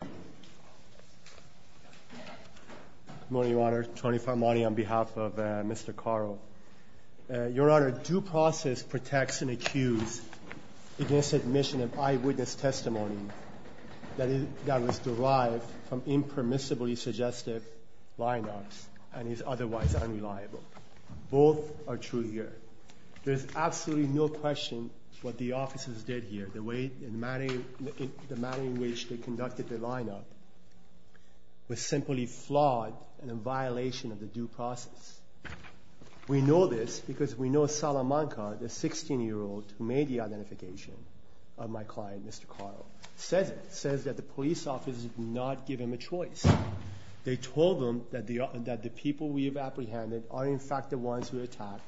Good morning, Your Honor. Tony Farmani on behalf of Mr. Caro. Your Honor, due process protects an accused against admission of eyewitness testimony that was derived from impermissibly suggestive line-ups and is otherwise unreliable. Both are true here. There is absolutely no question what the officers did here, the manner in which they conducted the line-up was simply flawed and in violation of the due process. We know this because we know Salamanca, the 16-year-old who made the identification of my client, Mr. Caro, says that the police officers did not give him a choice. They told him that the people we have apprehended are in fact the ones who attacked.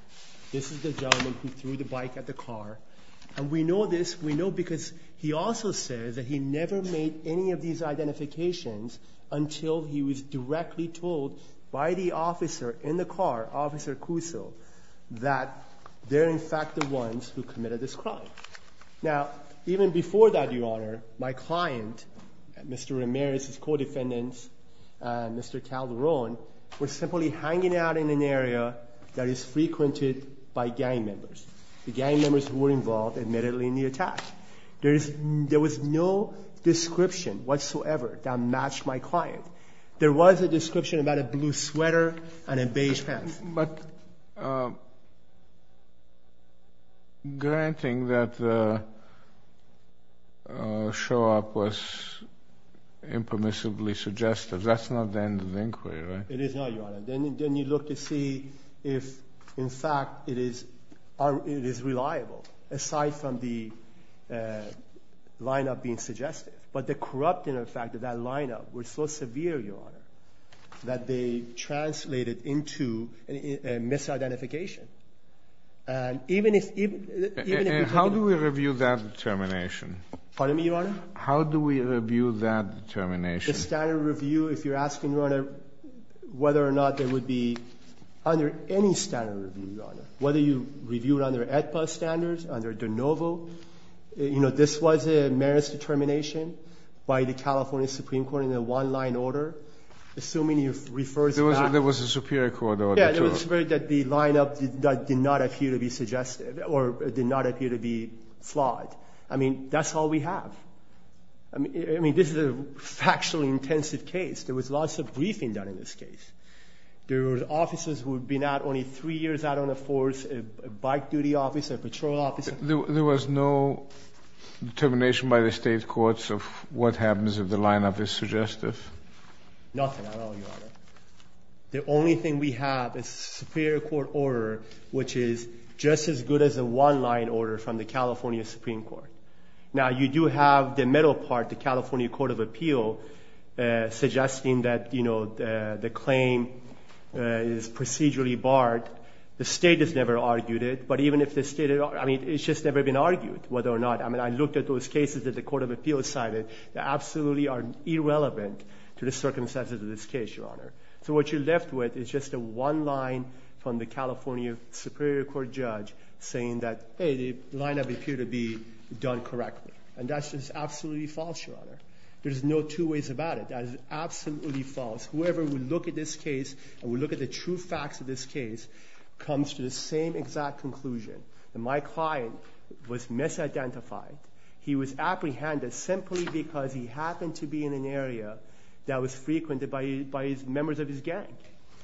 This is the gentleman who threw the bike at the car. And we know this, we know because he also says that he never made any of these identifications until he was directly told by the officer in the car, Officer Cuso, that they're in fact the ones who committed this crime. Now, even before that, Your Honor, my client, Mr. Ramirez, his co-defendants, Mr. Calderon, were simply hanging out in an area that is frequented by gang members. The gang members who were involved admittedly in the attack. There was no description whatsoever that matched my client. There was a description about a blue That's not the end of the inquiry, right? It is not, Your Honor. Then you look to see if, in fact, it is reliable, aside from the line-up being suggestive. But the corrupting effect of that line-up was so severe, Your Honor, that they translated into a misidentification. How do we review that determination? Pardon me, Your Honor? How do we review that determination? The standard review, if you're asking, Your Honor, whether or not there would be under any standard review, Your Honor, whether you review it under AEDPA standards, under de novo, you know, this was a merits determination by the California Supreme Court in a one-line order, assuming it refers back... There was a Superior Court order, too. Yeah, there was a Superior Court order that the line-up did not appear to be suggestive or did not appear to be flawed. I mean, that's all we have. I mean, this is a factually intensive case. There was lots of briefing done in this case. There were officers who had been out only three years out on the force, a bike-duty officer, a patrol officer. There was no determination by the state courts of what happens if the line-up is suggestive. Nothing at all, Your Honor. The only thing we have is a Superior Court order which is just as good as a one-line order from the California Supreme Court. Now, you do have the middle part, the California Court of Appeal, suggesting that, you know, the claim is procedurally barred. The state has never argued it, but even if the state... I mean, it's just never been argued, whether or not... I mean, I looked at those cases that the Court of Appeal cited that absolutely are irrelevant to the circumstances of this case, Your Honor. So what you're left with is just a one-line from the California Superior Court judge saying that, hey, the line-up appeared to be done correctly, and that's just absolutely false, Your Honor. There's no two ways about it. That is absolutely false. Whoever would look at this case and would look at the true facts of this case comes to the same exact conclusion. My client was misidentified. He was apprehended simply because he happened to be in an area that was frequented by members of his gang.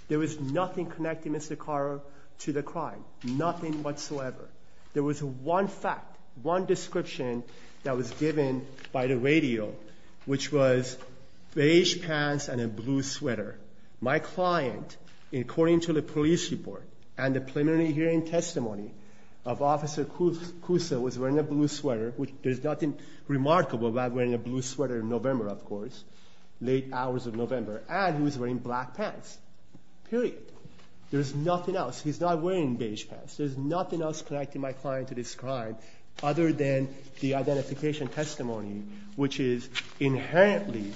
There was nothing connecting Mr. Carter to the crime, nothing whatsoever. There was one fact, one description that was given by the radio, which was beige pants and a blue sweater. My client, according to the police report and the preliminary hearing testimony of Officer Cusa, was wearing a blue sweater, which there's nothing remarkable about wearing a blue sweater in November, of course, late hours of November, and he was wearing black pants, period. There's nothing else. He's not wearing beige pants. There's nothing else connecting my client to this crime other than the identification testimony, which is inherently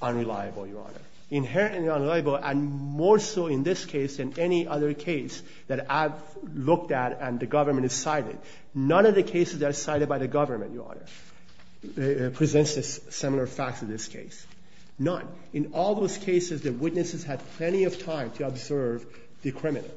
unreliable, Your Honor. Inherently unreliable, and more so in this particular case that I've looked at and the government has cited. None of the cases that are cited by the government, Your Honor, presents similar facts to this case. None. In all those cases, the witnesses had plenty of time to observe the criminal.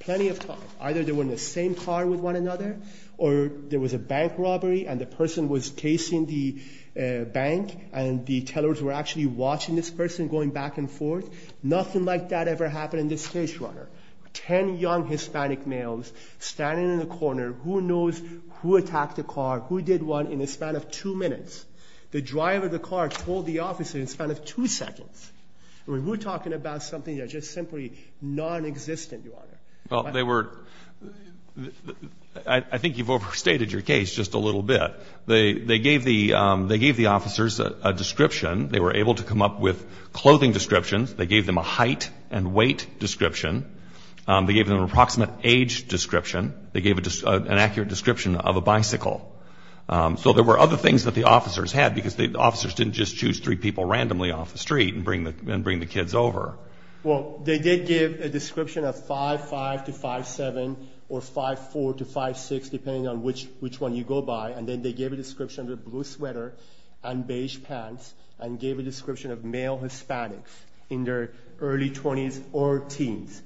Plenty of time. Either they were in the same car with one another or there was a bank robbery and the person was chasing the bank and the tellers were actually watching this person going back and forth in the car. Ten young Hispanic males standing in the corner. Who knows who attacked the car? Who did what in the span of two minutes? The driver of the car told the officer in the span of two seconds. We're talking about something that's just simply nonexistent, Your Honor. Well, they were – I think you've overstated your case just a little bit. They gave the officers a description. They were able to come up with clothing descriptions. They gave them a height and weight description. They gave them an approximate age description. They gave an accurate description of a bicycle. So there were other things that the officers had because the officers didn't just choose three people randomly off the street and bring the kids over. Well, they did give a description of 5'5 to 5'7 or 5'4 to 5'6 depending on which one you go by. And then they gave a description of a blue sweater and beige pants and gave a description of male Hispanics in their early 20s or teens.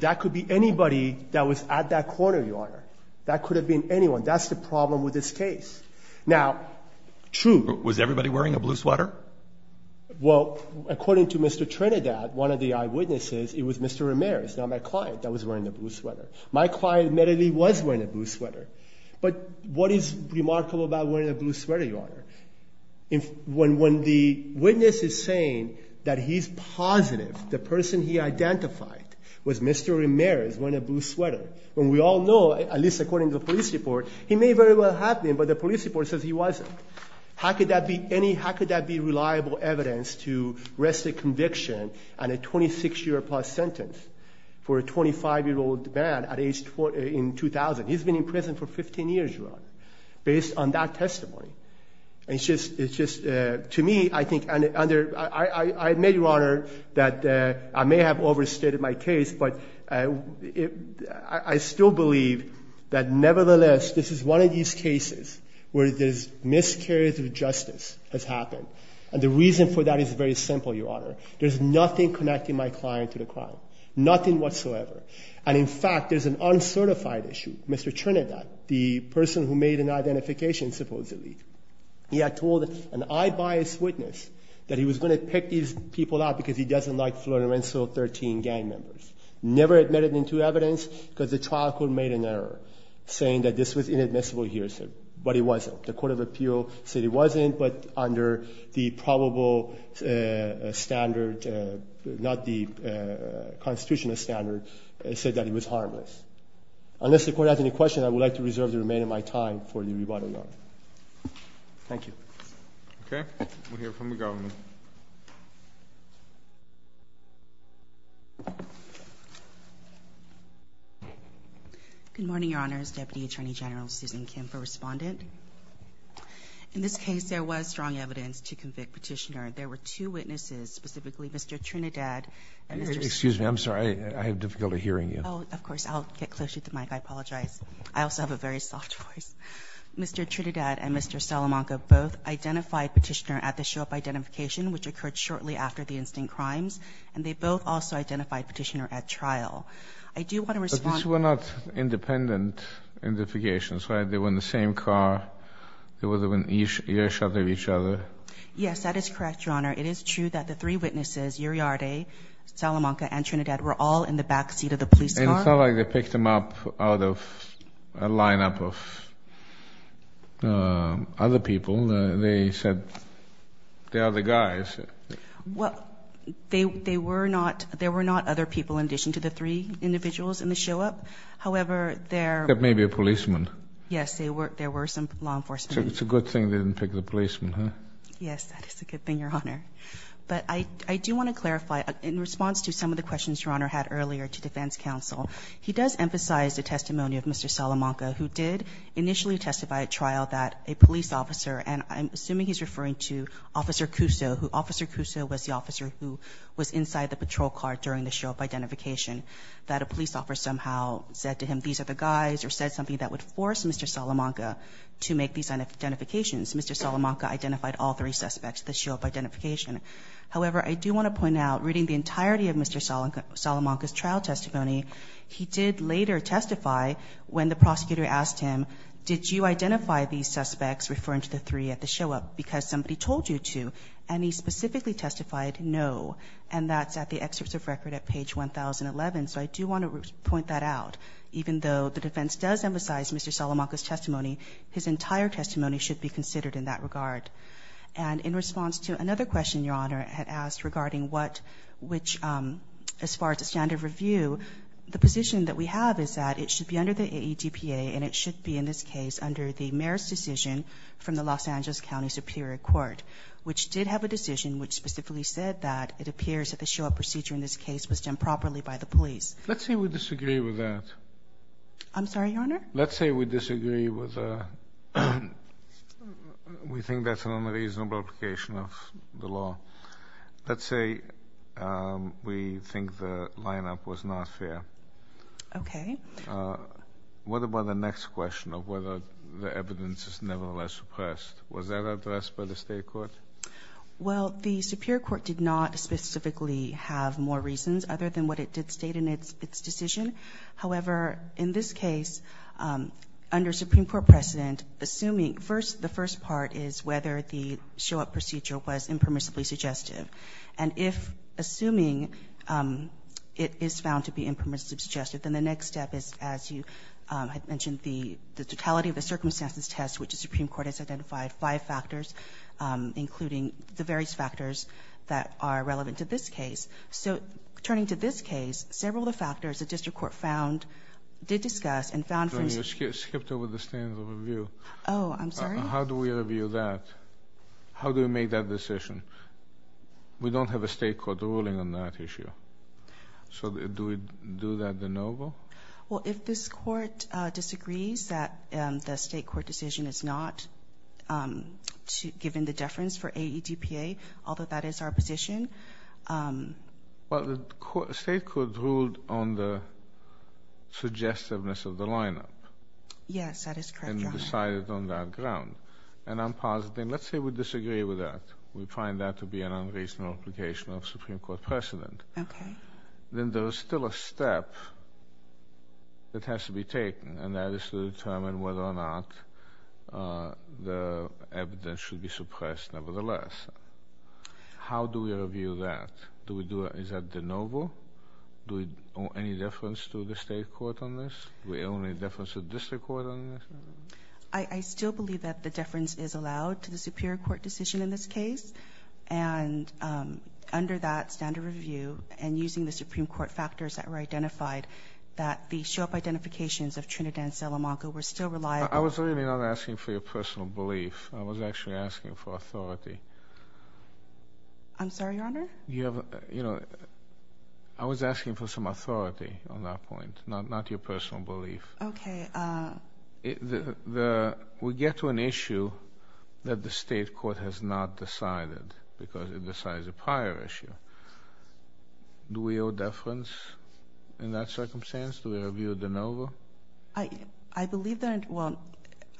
That could be anybody that was at that corner, Your Honor. That could have been anyone. That's the problem with this case. Now, true – Was everybody wearing a blue sweater? Well, according to Mr. Trinidad, one of the eyewitnesses, it was Mr. Ramirez, not my client, that was wearing a blue sweater. My client admittedly was wearing a blue sweater. But what is remarkable about wearing a blue sweater, Your Honor? When the witness is saying that he's positive the person he identified was Mr. Ramirez wearing a blue sweater, when we all know, at least according to the police report, he may very well have been, but the police report says he wasn't. How could that be any – how could that be reliable evidence to rest the conviction on a 26-year-plus sentence for a 25-year-old man at age – in 2000? He's been in prison for 15 years, Your Honor, based on that testimony. And it's just – it's just – to me, I think – and under – I admit, Your Honor, that I may have overstated my case, but I still believe that nevertheless, this is one of these cases where there's miscarriage of justice has happened. And the reason for that is very simple, Your Honor. There's nothing connecting my client to the crime, nothing whatsoever. And, in fact, there's an uncertified issue. Mr. Trinidad, the person who made an identification supposedly, he had told an eye-biased witness that he was going to pick these people out because he doesn't like Florenzo 13 gang members. Never admitted them to evidence because the trial court made an error saying that this was inadmissible here, but it wasn't. The court of appeal said it wasn't, but under the probable standard, not the constitutional standard, said that it was harmless. Unless the court has any questions, I would like to reserve the remainder of my time for the rebuttal, Your Honor. Thank you. Okay. We'll hear from the government. Good morning, Your Honors. Deputy Attorney General Susan Kim for Respondent. In this case, there was strong evidence to convict Petitioner. There were two witnesses, specifically Mr. Trinidad and Mr. Salamanca. Excuse me. I'm sorry. I have difficulty hearing you. Oh, of course. I'll get closer to the mic. I apologize. I also have a very soft voice. Mr. Trinidad and Mr. Salamanca both identified Petitioner at the show-up identification, which occurred shortly after the instant crimes, and they both also identified Petitioner at trial. I do want to respond. But these were not independent identifications, right? They were in the same car. They were in each other's ears. Yes, that is correct, Your Honor. It is true that the three witnesses, Uriarte, Salamanca, and Trinidad, were all in the back seat of the police car. And it's not like they picked them up out of a lineup of other people. They said they are the guys. Well, there were not other people in addition to the three individuals in the show-up. However, there were. There may be a policeman. Yes, there were some law enforcement. So it's a good thing they didn't pick the policeman, huh? Yes, that is a good thing, Your Honor. But I do want to clarify. In response to some of the questions Your Honor had earlier to defense counsel, he does emphasize the testimony of Mr. Salamanca, who did initially testify at trial that a police officer, and I'm assuming he's referring to Officer Cuso. Officer Cuso was the officer who was inside the patrol car during the show-up identification, that a police officer somehow said to him, these are the guys, or said something that would force Mr. Salamanca to make these identifications. Mr. Salamanca identified all three suspects at the show-up identification. However, I do want to point out, reading the entirety of Mr. Salamanca's trial testimony, he did later testify when the prosecutor asked him, did you identify these suspects, referring to the three at the show-up, because somebody told you to. And he specifically testified no. And that's at the excerpts of record at page 1011. So I do want to point that out. Even though the defense does emphasize Mr. Salamanca's testimony, his entire testimony should be considered in that regard. And in response to another question Your Honor had asked regarding what, which as far as the standard of review, the position that we have is that it should be under the AEDPA, and it should be in this case under the mayor's decision from the Los Angeles County Superior Court, which did have a decision which specifically said that it appears that the show-up procedure in this case was done properly by the police. Let's say we disagree with that. I'm sorry, Your Honor? Let's say we disagree with the, we think that's an unreasonable application of the law. Let's say we think the lineup was not fair. Okay. What about the next question of whether the evidence is nevertheless suppressed? Was that addressed by the state court? Well, the Superior Court did not specifically have more reasons other than what it did state in its decision. However, in this case, under Supreme Court precedent, assuming first, the first part is whether the show-up procedure was impermissibly suggestive. And if assuming it is found to be impermissibly suggestive, then the next step is, as you had mentioned, the totality of the circumstances test, which the Supreme Court has identified five factors, including the various factors that are relevant to this case. So turning to this case, several of the factors the district court found, did discuss, and found from- Your Honor, you skipped over the standard of review. Oh, I'm sorry? How do we review that? How do we make that decision? We don't have a state court ruling on that issue. So do we do that de novo? Well, if this court disagrees that the state court decision is not given the deference for AEDPA, although that is our position- Well, the state court ruled on the suggestiveness of the lineup. Yes, that is correct, Your Honor. And decided on that ground. And I'm positive. Let's say we disagree with that. We find that to be an unreasonable application of Supreme Court precedent. Okay. Then there is still a step that has to be taken, and that is to determine whether or not the evidence should be suppressed nevertheless. How do we review that? Is that de novo? Any deference to the state court on this? Do we own any deference to the district court on this? I still believe that the deference is allowed to the superior court decision in this case. And under that standard review and using the Supreme Court factors that were identified, that the show-up identifications of Trinidad and Salamanca were still reliable- I was really not asking for your personal belief. I was actually asking for authority. I'm sorry, Your Honor? You have a- You know, I was asking for some authority on that point, not your personal belief. Okay. We get to an issue that the state court has not decided because it decides a prior issue. Do we owe deference in that circumstance? Do we review de novo? I believe that-well,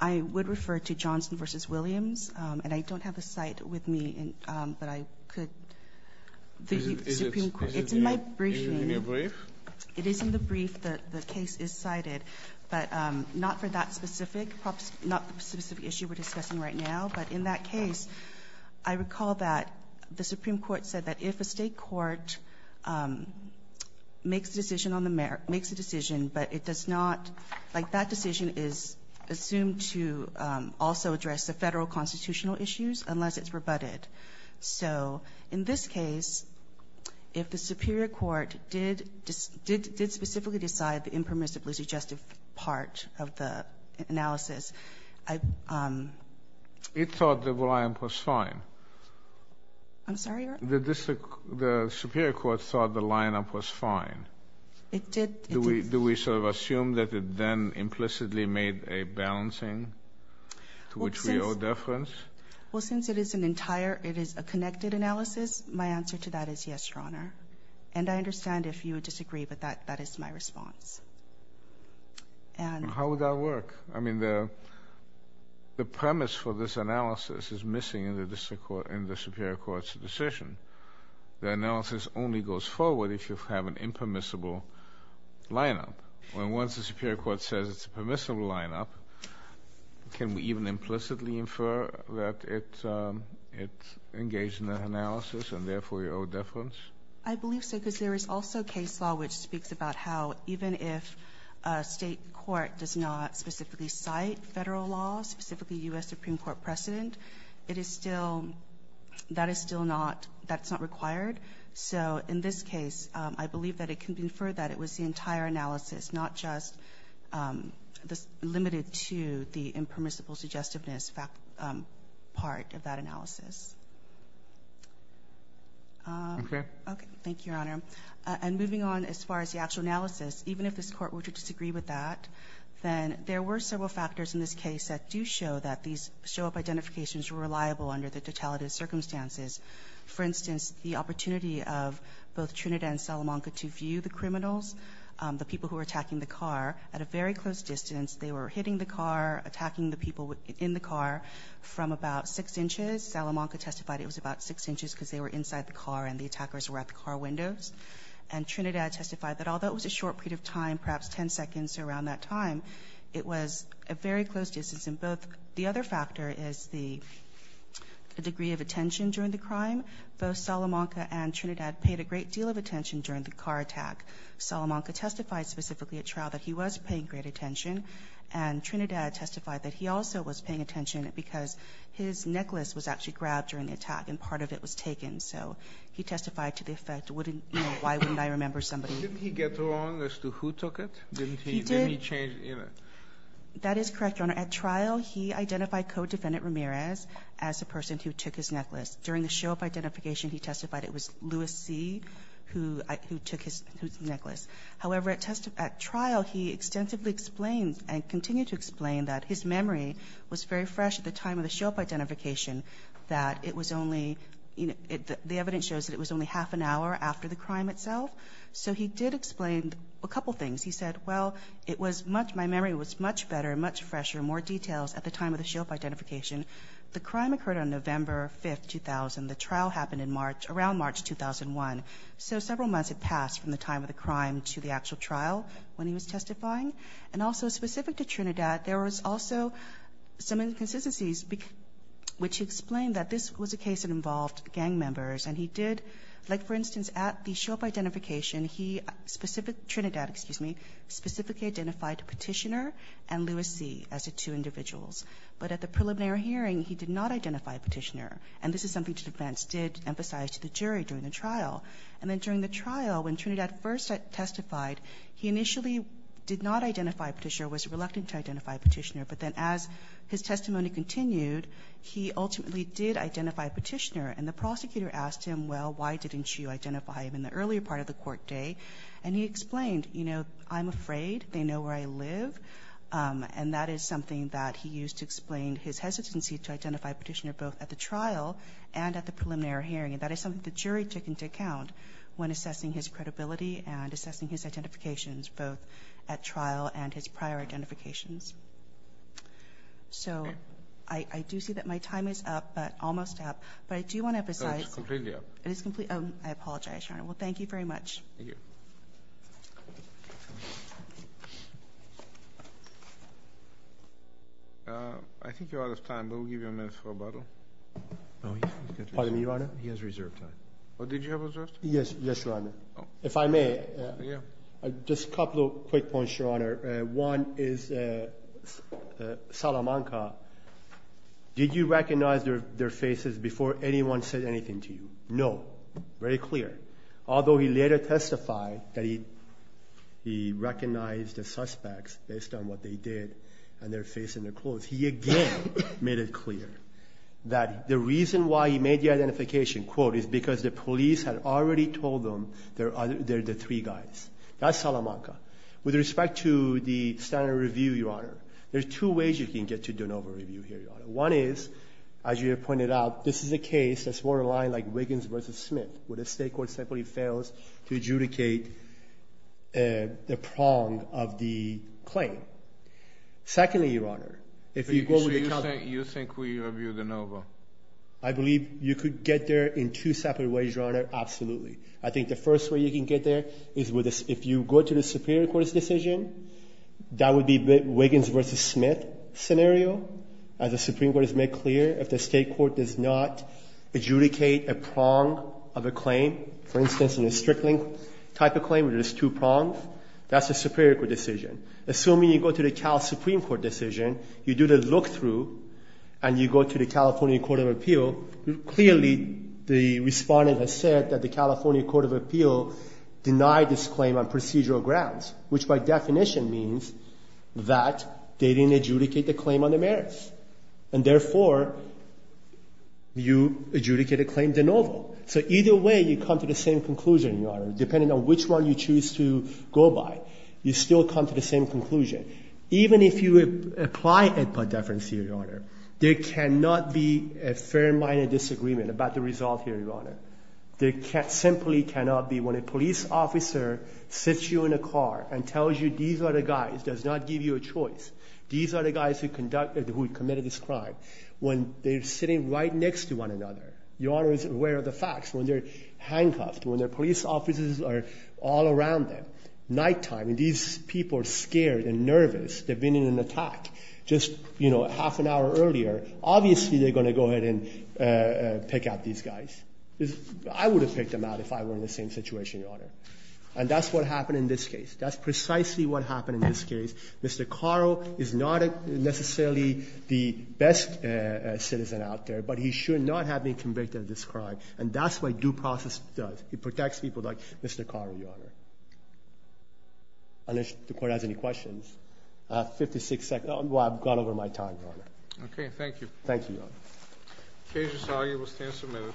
I would refer to Johnson v. Williams, and I don't have the cite with me, but I could- It is in the brief. The case is cited, but not for that specific issue we're discussing right now. But in that case, I recall that the Supreme Court said that if a state court makes a decision, but it does not-like that decision is assumed to also address the federal constitutional issues unless it's rebutted. So in this case, if the Superior Court did specifically decide the impermissibly suggestive part of the analysis, I- It thought the line-up was fine. I'm sorry, Your Honor? The Superior Court thought the line-up was fine. It did. Do we sort of assume that it then implicitly made a balancing to which we owe deference? Well, since it is an entire-it is a connected analysis, my answer to that is yes, Your Honor. And I understand if you would disagree, but that is my response. And- How would that work? I mean, the premise for this analysis is missing in the Superior Court's decision. The analysis only goes forward if you have an impermissible line-up. Well, once the Superior Court says it's a permissible line-up, can we even implicitly infer that it engaged in that analysis, and therefore you owe deference? I believe so, because there is also case law which speaks about how even if a state court does not specifically cite federal laws, specifically U.S. Supreme Court precedent, it is still-that is still not-that's not required. So in this case, I believe that it can be inferred that it was the entire analysis, not just the-limited to the impermissible suggestiveness part of that analysis. Okay. Okay. Thank you, Your Honor. And moving on as far as the actual analysis, even if this Court were to disagree with that, then there were several factors in this case that do show that these show-up identifications were reliable under the totality of circumstances. For instance, the opportunity of both Trinidad and Salamanca to view the criminals, the people who were attacking the car, at a very close distance. They were hitting the car, attacking the people in the car from about 6 inches. Salamanca testified it was about 6 inches because they were inside the car and the attackers were at the car windows. And Trinidad testified that although it was a short period of time, perhaps 10 seconds around that time, it was a very close distance. The other factor is the degree of attention during the crime. Both Salamanca and Trinidad paid a great deal of attention during the car attack. Salamanca testified specifically at trial that he was paying great attention, and Trinidad testified that he also was paying attention because his necklace was actually grabbed during the attack and part of it was taken. So he testified to the effect, why wouldn't I remember somebody- Didn't he get along as to who took it? He did. Didn't he change- That is correct, Your Honor. At trial, he identified co-defendant Ramirez as the person who took his necklace. During the show-up identification, he testified it was Louis C. who took his necklace. However, at trial, he extensively explained and continued to explain that his memory was very fresh at the time of the show-up identification, that it was only- The evidence shows that it was only half an hour after the crime itself. So he did explain a couple things. He said, well, it was much- My memory was much better, much fresher, more details at the time of the show-up identification. The crime occurred on November 5, 2000. The trial happened in March- around March 2001. So several months had passed from the time of the crime to the actual trial when he was testifying. And also, specific to Trinidad, there was also some inconsistencies, which he explained that this was a case that involved gang members, and he did- Trinidad, excuse me, specifically identified Petitioner and Louis C. as the two individuals. But at the preliminary hearing, he did not identify Petitioner. And this is something the defense did emphasize to the jury during the trial. And then during the trial, when Trinidad first testified, he initially did not identify Petitioner, was reluctant to identify Petitioner. But then as his testimony continued, he ultimately did identify Petitioner. And the prosecutor asked him, well, why didn't you identify him in the earlier part of the court day? And he explained, you know, I'm afraid. They know where I live. And that is something that he used to explain his hesitancy to identify Petitioner, both at the trial and at the preliminary hearing. And that is something the jury took into account when assessing his credibility and assessing his identifications, both at trial and his prior identifications. So I do see that my time is up, but almost up. But I do want to emphasize- No, it's completely up. It is completely-oh, I apologize, Your Honor. Well, thank you very much. Thank you. I think you're out of time, but we'll give you a minute for rebuttal. Pardon me, Your Honor? He has reserved time. Did you have reserved time? Yes, Your Honor. If I may, just a couple of quick points, Your Honor. One is Salamanca, did you recognize their faces before anyone said anything to you? No. Very clear. Although he later testified that he recognized the suspects based on what they did and their face and their clothes, he again made it clear that the reason why he made the identification, quote, is because the police had already told them they're the three guys. That's Salamanca. With respect to the standard review, Your Honor, there's two ways you can get to de novo review here, Your Honor. One is, as you have pointed out, this is a case that's more aligned like Wiggins v. Smith where the state court simply fails to adjudicate the prong of the claim. Secondly, Your Honor, if you go to the- So you think we review de novo? I believe you could get there in two separate ways, Your Honor, absolutely. I think the first way you can get there is if you go to the Superior Court's decision, that would be Wiggins v. Smith scenario. As the Supreme Court has made clear, if the state court does not adjudicate a prong of a claim, for instance, in a Strickling type of claim where there's two prongs, that's a Superior Court decision. Assuming you go to the Cal Supreme Court decision, you do the look-through and you go to the California Court of Appeal, clearly the respondent has said that the California Court of Appeal denied this claim on procedural grounds, which by definition means that they didn't adjudicate the claim on the merits. And therefore, you adjudicate a claim de novo. So either way, you come to the same conclusion, Your Honor, depending on which one you choose to go by. You still come to the same conclusion. Even if you apply it by deference here, Your Honor, there cannot be a fair amount of disagreement about the result here, Your Honor. There simply cannot be. When a police officer sits you in a car and tells you these are the guys, does not give you a choice, these are the guys who committed this crime. When they're sitting right next to one another, Your Honor is aware of the facts. When they're handcuffed, when the police officers are all around them, nighttime and these people are scared and nervous, they've been in an attack, just, you know, half an hour earlier, obviously they're going to go ahead and pick out these guys. I would have picked them out if I were in the same situation, Your Honor. And that's what happened in this case. That's precisely what happened in this case. Mr. Carro is not necessarily the best citizen out there, but he should not have been convicted of this crime. And that's what due process does. It protects people like Mr. Carro, Your Honor. Unless the Court has any questions. I have 56 seconds. I've gone over my time, Your Honor. Okay. Thank you. Thank you, Your Honor. Case resolved. You will stand for a minute.